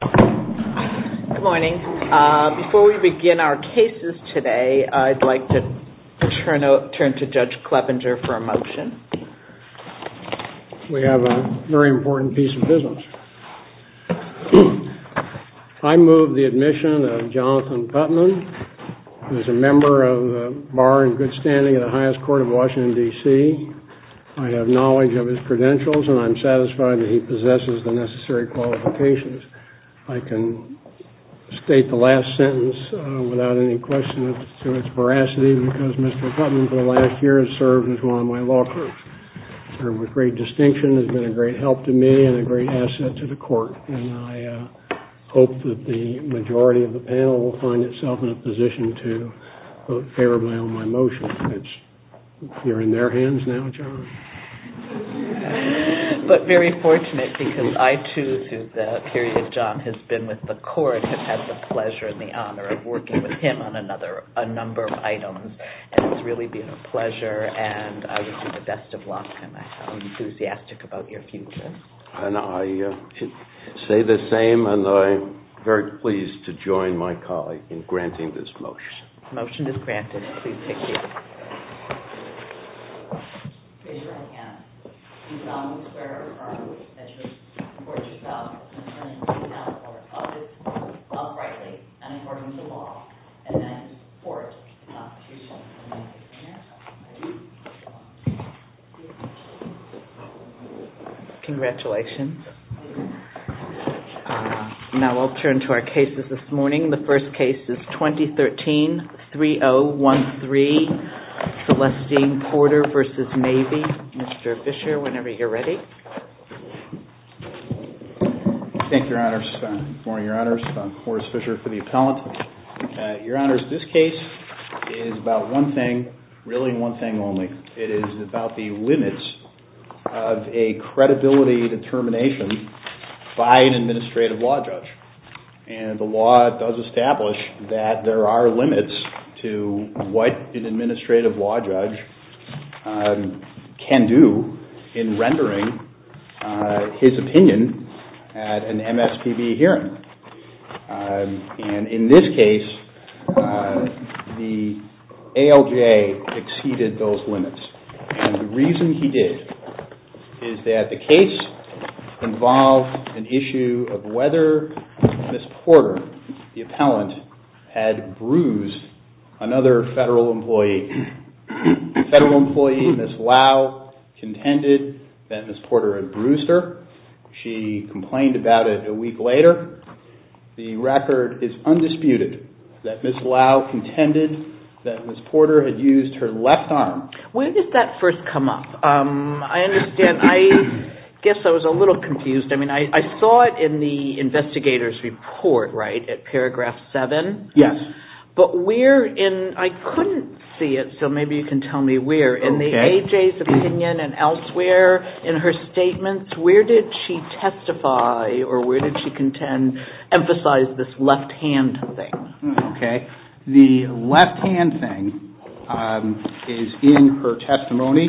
Good morning. Before we begin our cases today, I'd like to turn to Judge Kleppinger for a motion. We have a very important piece of business. I move the admission of Jonathan Putman, who is a member of the Bar and Good Standing of the highest court of Washington, D.C. I have knowledge of his credentials and I'm satisfied that he possesses the necessary qualifications. I can state the last sentence without any question to its veracity because Mr. Putman, for the last year, has served as one of my law clerks. He served with great distinction, has been a great help to me, and a great asset to the court. I hope that the majority of the panel will find itself in a position to vote favorably on my motion. You're in their hands now, John. But very fortunate because I too, through the period John has been with the court, have had the pleasure and the honor of working with him on a number of items. It's really been a pleasure and I wish you the best of luck. I'm enthusiastic about your future. I say the same and I'm very pleased to join my colleague in granting this motion. The motion is granted. Please take care. You're in their hands. You've done what's fair and right. Support yourself. Turn yourself, or others, uprightly and according to law. And then support the Constitution. Congratulations. Now I'll turn to our cases this morning. The first case is 2013-3013, Celestine Porter v. Mabee. Mr. Fisher, whenever you're ready. Thank you, Your Honors. Morris Fisher for the appellant. Your Honors, this case is about one thing, really one thing only. It is about the limits of a credibility determination by an administrative law judge. And the law does establish that there are limits to what an administrative law judge can do in rendering his opinion at an MSPB hearing. And in this case, the ALJ exceeded those limits. And the reason he did is that the case involved an issue of whether Ms. Porter, the appellant, had bruised another federal employee. The federal employee, Ms. Lau, contended that Ms. Porter had bruised her. She complained about it a week later. The record is undisputed that Ms. Lau contended that Ms. Porter had used her left arm. When did that first come up? I understand, I guess I was a little confused. I mean, I saw it in the investigator's report, right, at paragraph 7? Yes. But where in, I couldn't see it, so maybe you can tell me where. In the AJ's opinion and elsewhere in her statements, where did she testify or where did she contend, emphasize this left hand thing? The left hand thing is in her testimony.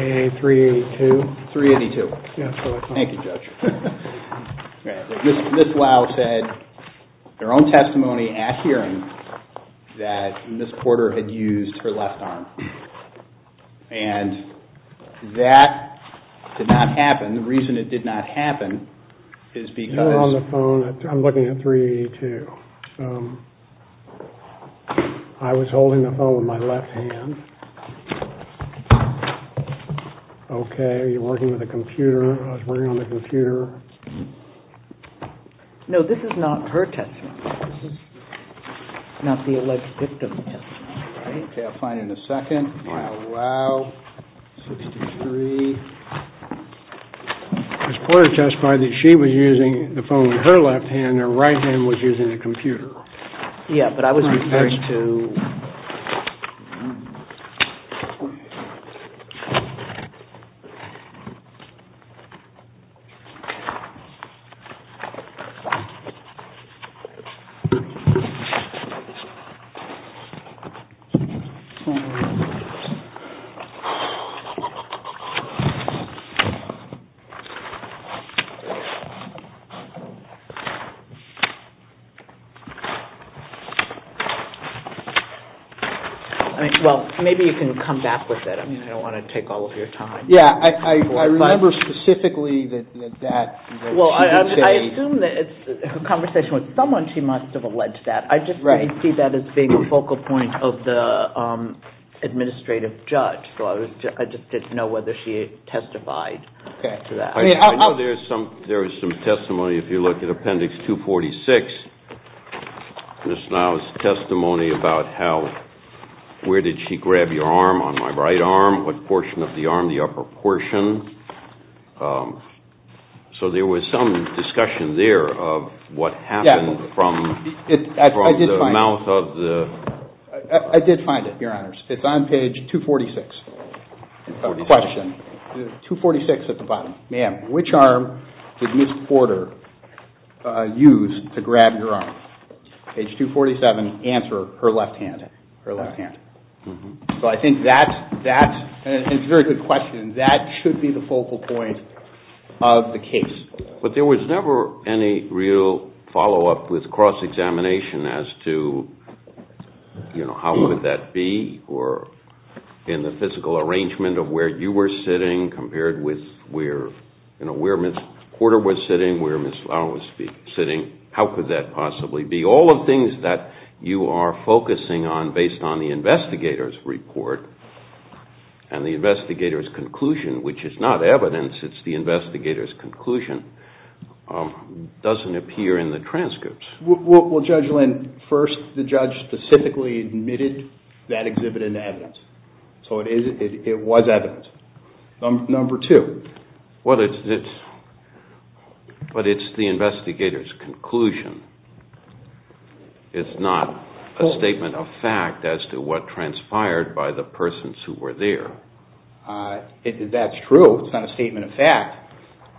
A.A. 382? 382. Yes, go ahead. Thank you, Judge. Ms. Lau said in her own testimony at hearing that Ms. Porter had used her left arm. And that did not happen. The reason it did not happen is because... You're on the phone. I'm looking at 382. I was holding the phone with my left hand. Okay, you're working with a computer. I was working on the computer. No, this is not her testimony. This is not the alleged victim's testimony, right? Okay, I'll find it in a second. Wow. Wow. 63. Ms. Porter testified that she was using the phone with her left hand and her right hand was using a computer. Yeah, but I was referring to... I mean, well, maybe you can come back with it. I mean, I don't want to take all of your time. Yeah, I remember specifically that she did say... Well, I assume that her conversation with someone, she must have alleged that. Right. I just didn't see that as being a focal point of the administrative judge, so I just didn't know whether she had testified or not. I know there is some testimony if you look at Appendix 246. Ms. Niles' testimony about where did she grab your arm, on my right arm, what portion of the arm, the upper portion. So there was some discussion there of what happened from the mouth of the... I did find it, Your Honors. It's on page 246. Question. 246 at the bottom. Ma'am, which arm did Ms. Porter use to grab your arm? Page 247, answer, her left hand. Her left hand. So I think that's a very good question. That should be the focal point of the case. But there was never any real follow-up with cross-examination as to how would that be in the physical arrangement of where you were sitting compared with where Ms. Porter was sitting, where Ms. Fowler was sitting. How could that possibly be? All of the things that you are focusing on based on the investigator's report and the investigator's conclusion, which is not evidence, it's the investigator's conclusion, doesn't appear in the transcripts. Well, Judge Lynn, first the judge specifically admitted that exhibit into evidence. So it was evidence. Number two. Well, it's the investigator's conclusion. It's not a statement of fact as to what transpired by the persons who were there. It's not a statement of fact.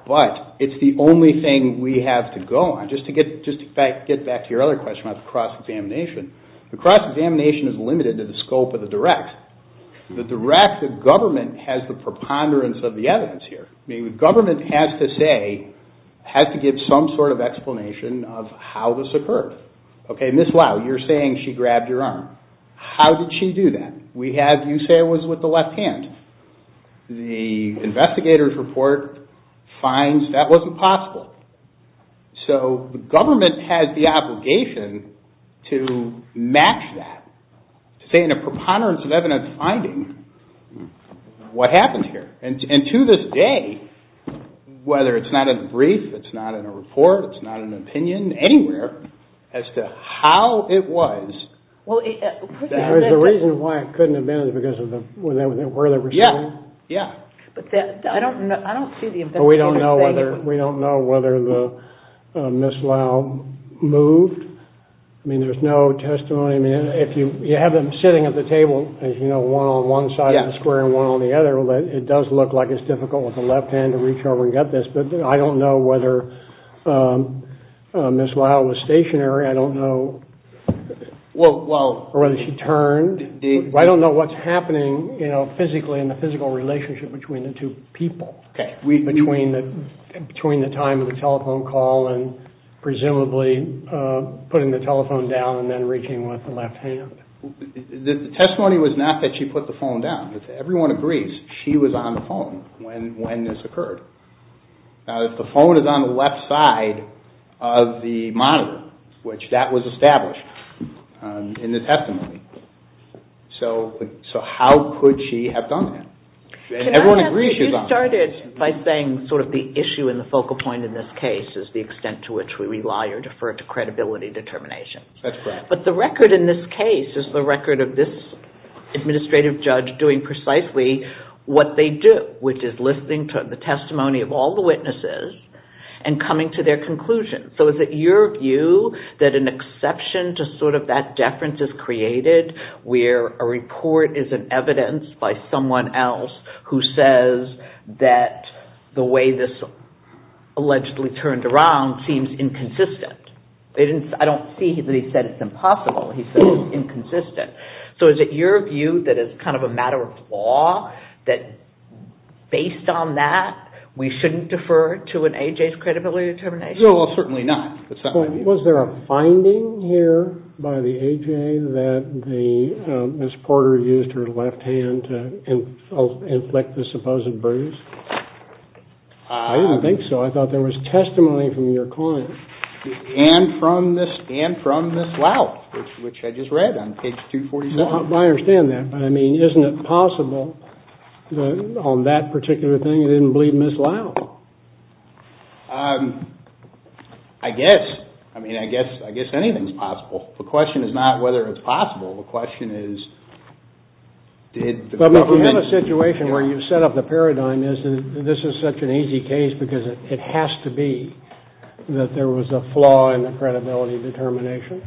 But it's the only thing we have to go on. Just to get back to your other question about the cross-examination. The cross-examination is limited to the scope of the direct. The direct of government has the preponderance of the evidence here. Government has to say, has to give some sort of explanation of how this occurred. Okay, Ms. Lau, you're saying she grabbed your arm. How did she do that? You say it was with the left hand. The investigator's report finds that wasn't possible. So the government has the obligation to match that, to say in a preponderance of evidence finding what happened here. And to this day, whether it's not in the brief, it's not in a report, it's not in an opinion anywhere as to how it was. The reason why it couldn't have been is because of where they were sitting. Yeah, yeah. I don't see the investigation. We don't know whether Ms. Lau moved. I mean, there's no testimony. I mean, you have them sitting at the table, as you know, one on one side of the square and one on the other. It does look like it's difficult with the left hand to reach over and get this. But I don't know whether Ms. Lau was stationary. I don't know. Or whether she turned. I don't know what's happening physically in the physical relationship between the two people. Between the time of the telephone call and presumably putting the telephone down and then reaching with the left hand. The testimony was not that she put the phone down. Everyone agrees she was on the phone when this occurred. Now, if the phone is on the left side of the monitor, which that was established, in the testimony, so how could she have done that? Everyone agrees she was on the phone. You started by saying sort of the issue and the focal point in this case is the extent to which we rely or defer to credibility determination. That's correct. But the record in this case is the record of this administrative judge doing precisely what they do, which is listening to the testimony of all the witnesses and coming to their conclusions. So is it your view that an exception to sort of that deference is created where a report is an evidence by someone else who says that the way this allegedly turned around seems inconsistent? I don't see that he said it's impossible. He said it's inconsistent. So is it your view that it's kind of a matter of law that based on that we shouldn't defer to an AJ's credibility determination? Well, certainly not. Was there a finding here by the AJ that Ms. Porter used her left hand to inflict the supposed bruise? I didn't think so. I thought there was testimony from your client. And from Ms. Lyle, which I just read on page 247. I understand that, but I mean, isn't it possible that on that particular thing you didn't believe Ms. Lyle? I guess. I mean, I guess anything's possible. The question is not whether it's possible. The question is did the government... But if you have a situation where you've set up the paradigm this is such an easy case because it has to be that there was a flaw in the credibility determination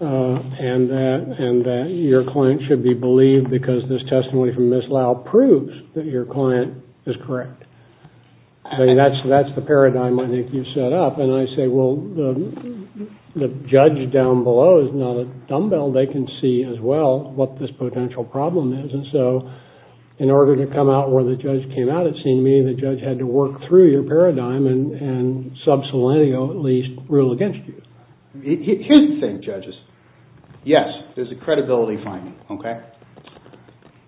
and that your client should be believed because this testimony from Ms. Lyle proves that your client is correct. I mean, that's the paradigm I think you've set up. And I say, well, the judge down below is not a dumbbell. They can see as well what this potential problem is. And so in order to come out where the judge came out at seeing me the judge had to work through your paradigm and sub-selenio at least rule against you. Here's the thing, judges. Yes, there's a credibility finding, okay?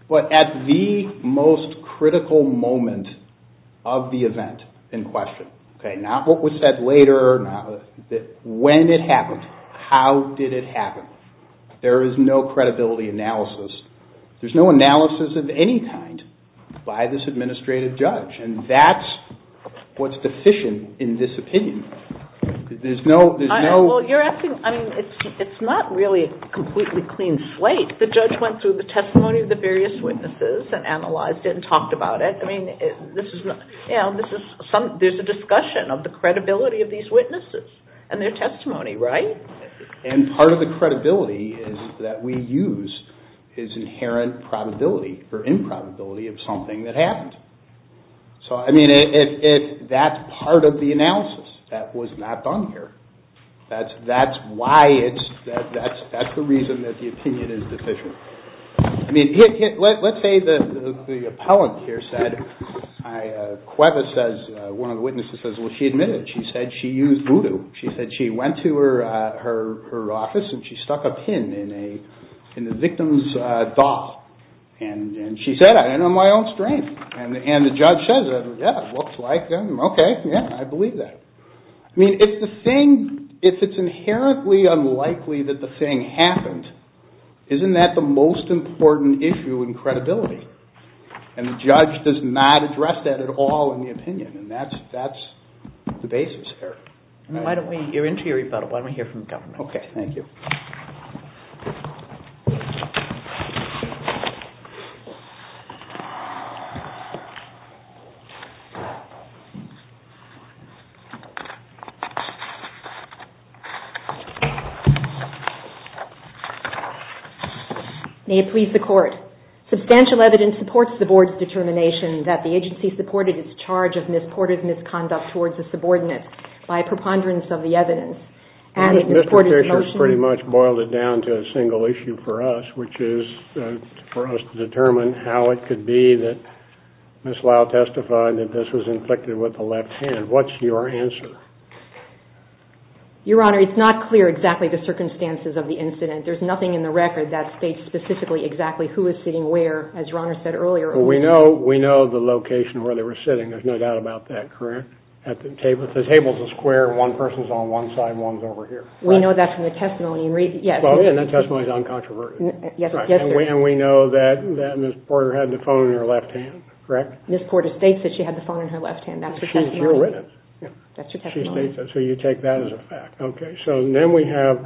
But at the most critical moment of the event in question, okay? Not what was said later. When it happened. How did it happen? There is no credibility analysis. There's no analysis of any kind by this administrative judge. And that's what's deficient in this opinion. There's no... Well, you're asking... I mean, it's not really a completely clean slate. The judge went through the testimony of the various witnesses and analyzed it and talked about it. I mean, there's a discussion of the credibility of these witnesses and their testimony, right? And part of the credibility that we use is inherent probability or improbability of something that happened. So, I mean, that's part of the analysis. That was not done here. That's why it's... That's the reason that the opinion is deficient. I mean, let's say the appellant here said... Cuevas says... One of the witnesses says, well, she admitted. She said she used voodoo. She said she went to her office and she stuck a pin in the victim's thought. And she said, I don't know my own strength. And the judge says, yeah, it looks like... Okay, yeah, I believe that. I mean, if the thing... If it's inherently unlikely that the thing happened, isn't that the most important issue in credibility? And the judge does not address that at all in the opinion. And that's the basis here. Why don't we... You're into your rebuttal. Why don't we hear from the government? Okay, thank you. Thank you. May it please the court. Substantial evidence supports the board's determination that the agency supported its charge of misported misconduct towards a subordinate by preponderance of the evidence. Mr. Fisher has pretty much boiled it down to a single issue for us, which is for us to determine how it could be that Ms. Lau testified that this was inflicted with the left hand. What's your answer? Your Honor, it's not clear exactly the circumstances of the incident. There's nothing in the record that states specifically exactly who is sitting where, as Your Honor said earlier. We know the location where they were sitting. There's no doubt about that, correct? The table's a square. One person's on one side and one's over here. We know that from the testimony. And that testimony is uncontroverted. And we know that Ms. Porter had the phone in her left hand, correct? Ms. Porter states that she had the phone in her left hand. That's your testimony. She states that, so you take that as a fact. Okay, so then we have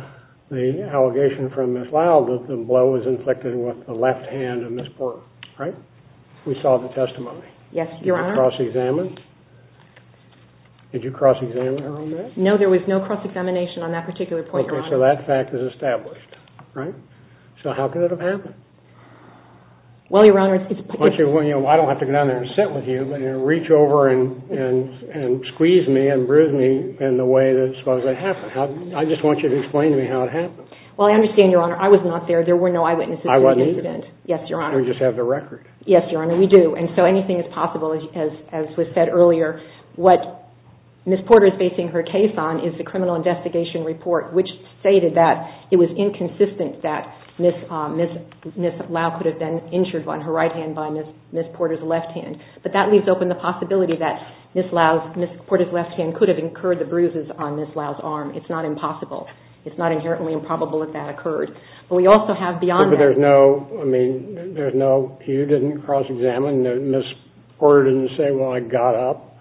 the allegation from Ms. Lau that the blow was inflicted with the left hand of Ms. Porter, right? We saw the testimony. Yes, Your Honor. Did you cross-examine? Did you cross-examine her on that? No, there was no cross-examination on that particular point, Your Honor. Okay, so that fact is established, right? So how could it have happened? Well, Your Honor, it's... It squeezed me and bruised me in the way that it supposedly happened. I just want you to explain to me how it happened. Well, I understand, Your Honor. I was not there. There were no eyewitnesses. I wasn't either. Yes, Your Honor. We just have the record. Yes, Your Honor, we do. And so anything is possible, as was said earlier. What Ms. Porter is basing her case on is the criminal investigation report which stated that it was inconsistent that Ms. Lau could have been injured on her right hand by Ms. Porter's left hand. But that leaves open the possibility that Ms. Porter's left hand could have incurred the bruises on Ms. Lau's arm. It's not impossible. It's not inherently improbable that that occurred. But we also have beyond that... But there's no... I mean, there's no... You didn't cross-examine. Ms. Porter didn't say, well, I got up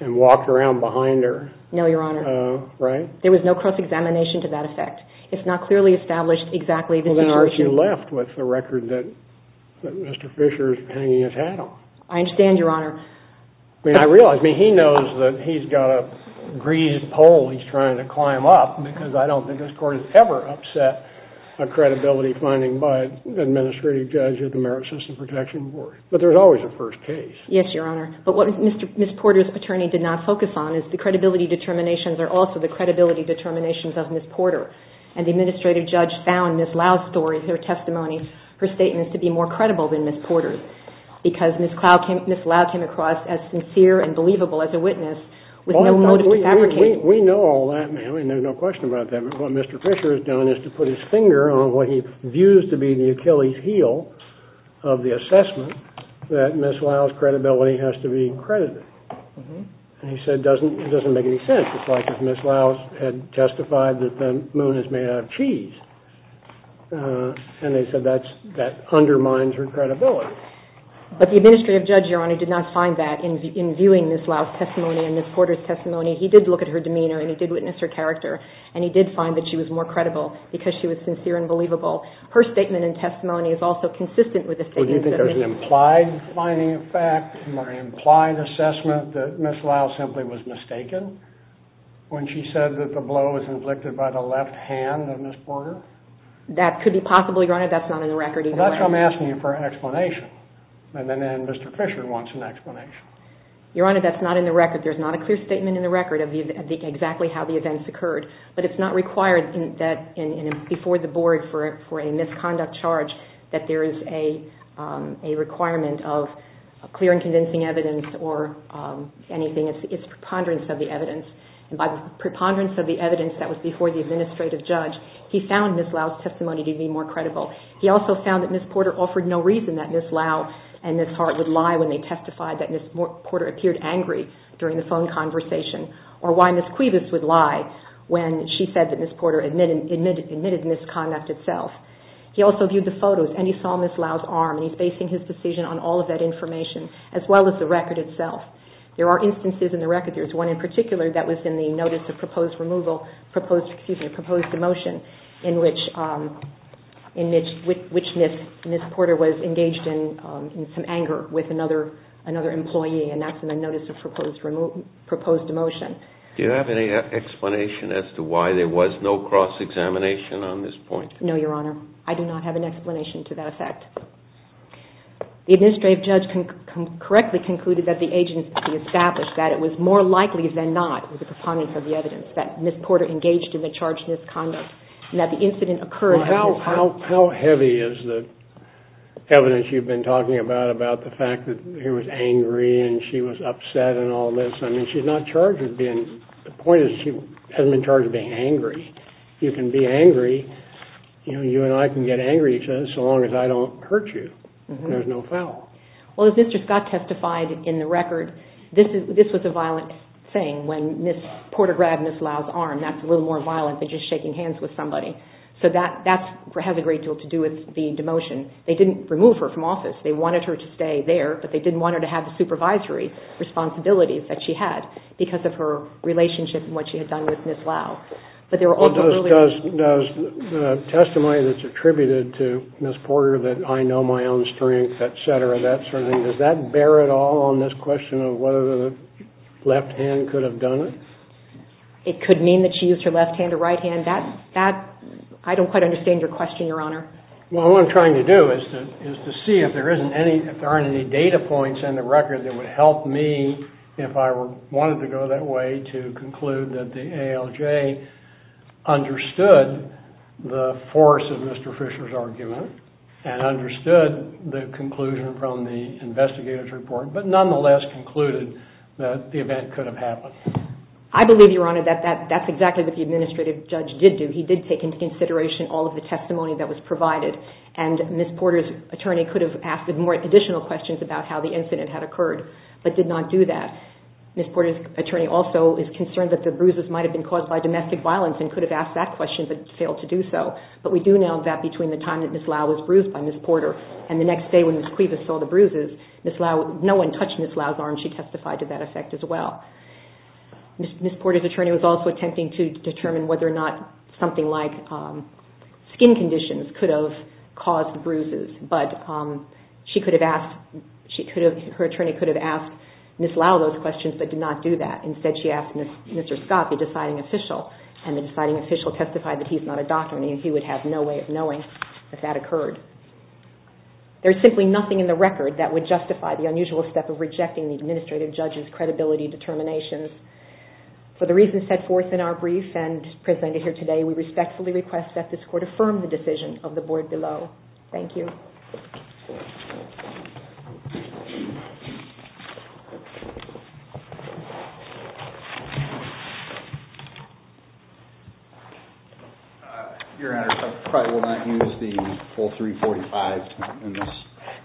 and walked around behind her. No, Your Honor. Right? There was no cross-examination to that effect. It's not clearly established exactly the situation... Well, then I'm sure she left with the record that Mr. Fisher's hanging his hat on. I understand, Your Honor. I mean, I realize... I mean, he knows that he's got a greased pole he's trying to climb up because I don't think this Court has ever upset a credibility finding by an administrative judge at the Merit System Protection Board. But there's always a first case. Yes, Your Honor. But what Ms. Porter's attorney did not focus on is the credibility determinations are also the credibility determinations of Ms. Porter. And the administrative judge found Ms. Lau's story, her testimony, her statements to be more credible than Ms. Porter's because Ms. Lau came across as sincere and believable as a witness with no motive to fabricate. We know all that, ma'am. And there's no question about that. But what Mr. Fisher has done is to put his finger on what he views to be the Achilles heel of the assessment that Ms. Lau's credibility has to be credited. And he said it doesn't make any sense. It's like if Ms. Lau had testified that the moon is made out of cheese. And they said that undermines her credibility. But the administrative judge, Your Honor, did not find that in Ms. Porter's testimony. In reviewing Ms. Lau's testimony and Ms. Porter's testimony, he did look at her demeanor and he did witness her character. And he did find that she was more credible because she was sincere and believable. Her statement and testimony is also consistent with the statements of Ms. Porter. Well, do you think there's an implied finding of fact or an implied assessment that Ms. Lau simply was mistaken when she said that the blow was inflicted by the left hand of Ms. Porter? That could be possibly, Your Honor. That's not in the record either way. Your Honor, that's not in the record. There's not a clear statement in the record of exactly how the events occurred. But it's not required before the board for a misconduct charge that there is a requirement of clear and convincing evidence or anything. It's preponderance of the evidence. And by preponderance of the evidence that was before the administrative judge, he found Ms. Lau's testimony to be more credible. He also found that Ms. Porter offered no reason that Ms. Lau and Ms. Hart would lie when they testified that Ms. Porter had been angry during the phone conversation or why Ms. Cuevas would lie when she said that Ms. Porter admitted misconduct itself. He also viewed the photos and he saw Ms. Lau's arm and he's basing his decision on all of that information as well as the record itself. There are instances in the record, there's one in particular that was in the notice of proposed emotion in which Ms. Porter was engaged in some anger with another employee and that's in the notice of proposed emotion. Do you have any explanation as to why there was no cross-examination on this point? No, Your Honor. I do not have an explanation to that effect. The administrative judge correctly concluded that the agency established that it was more likely than not with the preponderance of the evidence that Ms. Porter engaged in the charge of misconduct and that the incident occurred before Ms. Porter was charged. How heavy is the evidence you've been talking about about the fact that he was angry and she was upset and all this? I mean, she's not charged with being, the point is she hasn't been charged with being angry. You can be angry, you and I can get angry so long as I don't hurt you. There's no foul. Well, as Mr. Scott testified in the record, this was a violent thing when Ms. Porter grabbed Ms. Lau's arm. That's a little more violent than just shaking hands with somebody. So that has a great deal to do with the demotion. They didn't remove her from office. They wanted her to stay there but they didn't want her to have the supervisory responsibilities that she had because of her relationship and what she had done with Ms. Lau. Does the testimony that's attributed to Ms. Porter that I know my own strength, et cetera, that sort of thing, does that bear at all on this question of whether the left hand could have done it? It could mean that she used her left hand or right hand. I don't quite understand your question, Your Honor. Well, what I'm trying to do is to see if there aren't any data points in the record that would help me if I wanted to go that way to conclude that the ALJ understood the force of Mr. Fisher's argument and understood the conclusion from the investigator's report but nonetheless concluded that the event could have happened. I believe, Your Honor, that that's exactly what the administrative judge did do. He did take into consideration all of the testimony that was provided and Ms. Porter's attorney could have asked more additional questions about how the incident had occurred but did not do that. Ms. Porter's attorney also is concerned that the bruises might have been caused by domestic violence and could have asked that question but failed to do so but we do know that between the time that Ms. Lau was bruised by Ms. Porter and the next day when Ms. Cuevas saw the bruises, no one touched Ms. Lau's arm and she testified to that effect as well. Ms. Porter's attorney was also attempting to determine whether or not something like skin conditions could have caused bruises but she could have asked her attorney could have asked Ms. Lau those questions but did not do that. Instead, she asked Mr. Scott, the deciding official and the deciding official testified that he's not a doctor and he would have no way of knowing that that occurred. There's simply nothing in the record that would justify the unusual step of rejecting the administrative judge's credibility determinations. For the reasons set forth in our brief and presented here today, we respectfully request that this court affirm the decision of the board below. Thank you. Your Honor, I probably will not use the full 345 in this.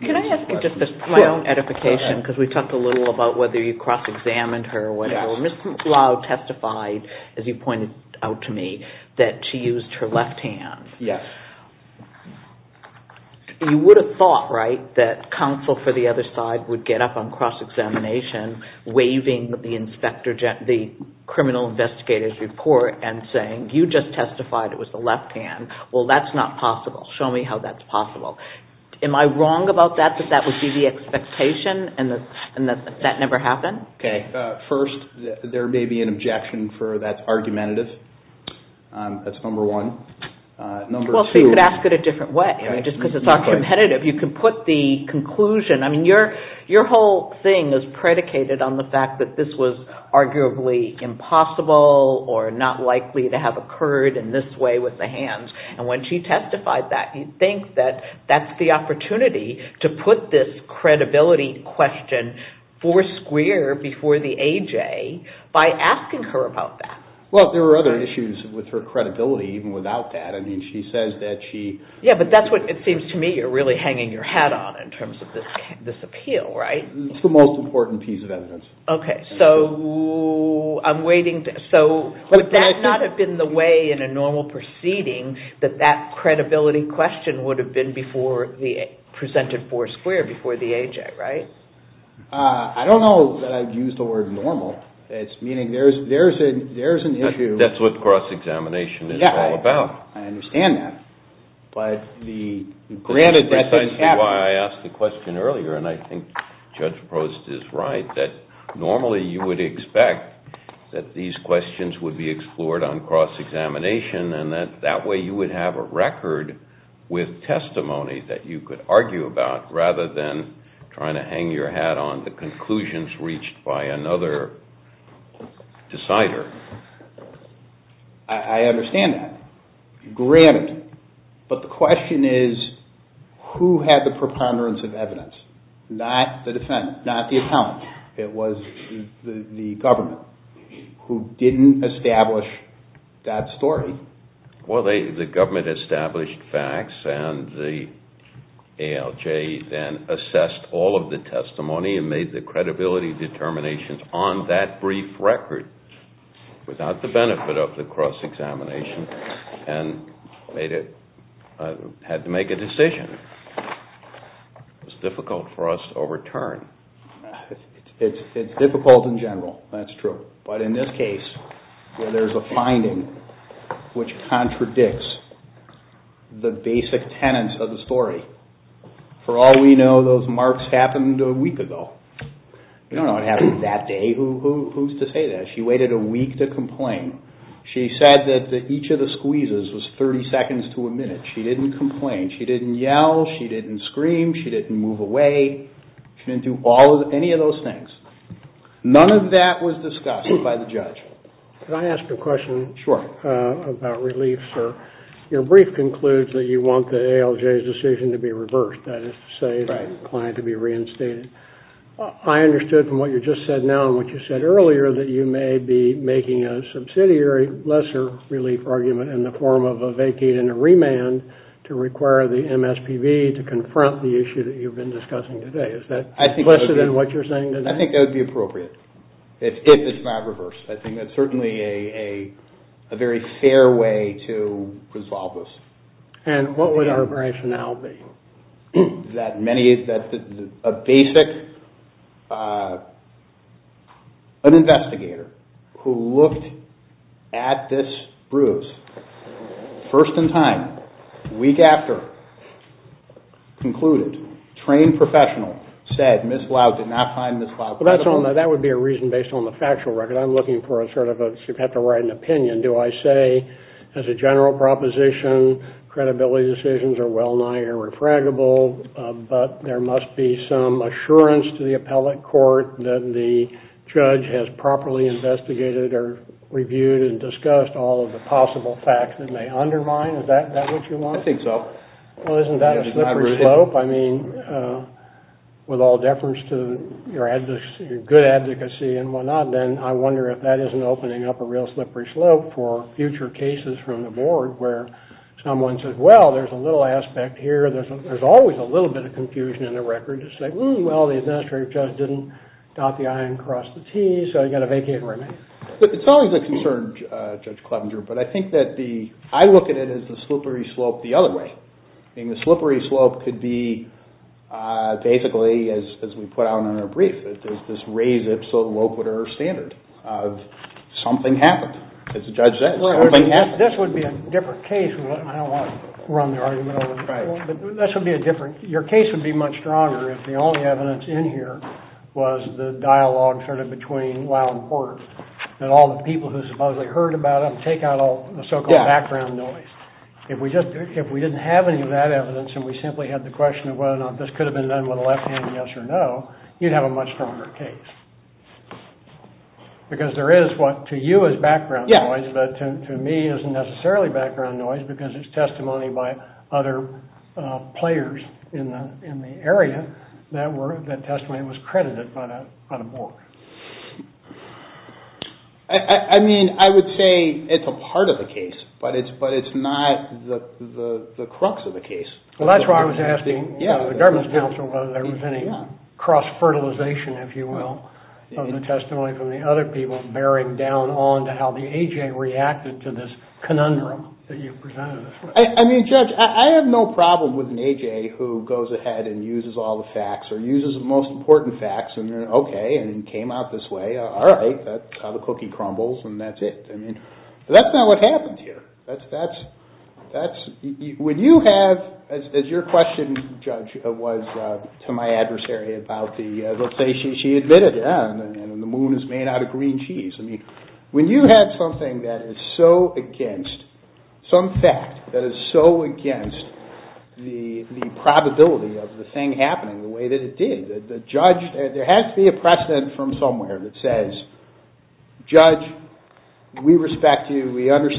Can I ask you just my own edification because we talked a little about whether you cross-examined her or whatever. Ms. Lau testified as you pointed out to me that she used her left hand. Yes. You would have thought, right, that counsel for the other side would get up on cross-examination waving the criminal investigator's report and saying, you just testified it was the left hand. Well, that's not possible. Show me how that's possible. Am I wrong about that that that would be the expectation and that that never happened? Okay. First, there may be an objection for that's argumentative. That's number one. Well, see, you could ask it a different way. Just because it's argumentative, you can put the conclusion. I mean, your whole thing is predicated on the fact that this was arguably impossible or not likely to have occurred in this way with the hands. And when she testified that, you'd think that that's the opportunity to put this credibility question four square before the AJ by asking her about that. Well, there are other issues with her credibility even without that. I mean, she says that she Yeah, but that's what it seems to me you're really hanging your hat on in terms of this appeal, right? It's the most important piece of evidence. Okay. So, I'm waiting to So, would that not have been the way in a normal proceeding that that credibility question would have been before presented four square before the AJ, right? I don't know that I'd use the word normal. It's meaning there's an issue That's what cross-examination is all about. Yeah, I understand that. But the granted, that's why I asked the question earlier and I think Judge Prost is right that normally you would expect that these questions would be explored on cross-examination and that that way you would have a record with testimony that you could argue about rather than trying to hang your hat on the conclusions reached by another decider. I understand that. Granted. But the question is who had the preponderance of evidence? Not the defendant. Not the appellant. It was the government who didn't establish that story. Well, the government established facts and the ALJ then assessed all of the testimony and made the credibility determinations on that brief record without the benefit of the cross-examination and had to make a decision. It's difficult for us to overturn. It's difficult in general. That's true. But in this case where there's a finding which contradicts the basic tenets of the story, for all we know those marks happened a week ago. You don't know what happened that day. Who's to say that? She waited a week to complain. She said that each of the squeezes was 30 seconds to a minute. She didn't complain. She didn't yell. She didn't scream. She didn't move away. She didn't do any of those things. None of that was discussed by the judge. Can I ask a question about relief, sir? Your brief concludes that you want the ALJ's decision to be reversed. That is to say the client to be reinstated. I understood from what you just said now and what you said earlier that you may be making a subsidiary lesser relief argument in the form of a vacate and a remand to require the ALJ's decision reversed. I think that would be appropriate if it's not reversed. I think that's certainly a very fair way to resolve this. And what would our rationale be? That a basic investigator who looked at this bruise first in time, week after, concluded, trained professional, said Ms. Smith, very serious case. I think that would be a reason based on the factual record. I'm looking for an opinion. Do I say as a general proposition credibility decisions are well nigh irrefragable but there must be some assurance to the appellate court that the judge has properly investigated or reviewed and discussed all of the possible facts that may undermine? Is that what you want? I think so. Well, isn't that a slippery slope? With all deference to your good advocacy and whatnot, I wonder if that isn't opening up a slippery slope for future cases from the board where someone says, well, there's a little aspect here, there's always a little bit of confusion in the record to say, well, the administrative judge didn't dot the I and cross the T, so you've got to vacate where it may be. It's always a concern, Judge Clevenger, but I think that I look at it as a slippery slope the other way. I mean, the slippery slope could be basically as we put out in our brief, this raised standard of something happened. As the judge said, something happened. This would be a different case. Your case would be much stronger if the only evidence in here was the dialogue sort of between Lyle and Porter, that all the people who supposedly heard about them take out all the so-called background noise. If we didn't have any of that evidence and we simply had the question of whether or not this could have been done with a left hand yes or no, you would have a different case. I mean, I would say it's a part of the case, but it's not the crux of the case. That's why I was asking the government council whether there was any cross-fertilization of the testimony from the other people bearing down on how the cookie have this story of an M.A.J. who goes ahead and uses all the facts or uses the most important facts, and came out this way. All right. That's how the cookie crumbles and that's it. That's not how the moon is made out of green cheese. When you have something that is so against the probability of the thing happening the way that it did, there has to be a precedent from somewhere that says judge, we respect you, we don't care and use the facts to make a decision about it. We don't care about the facts that we care about.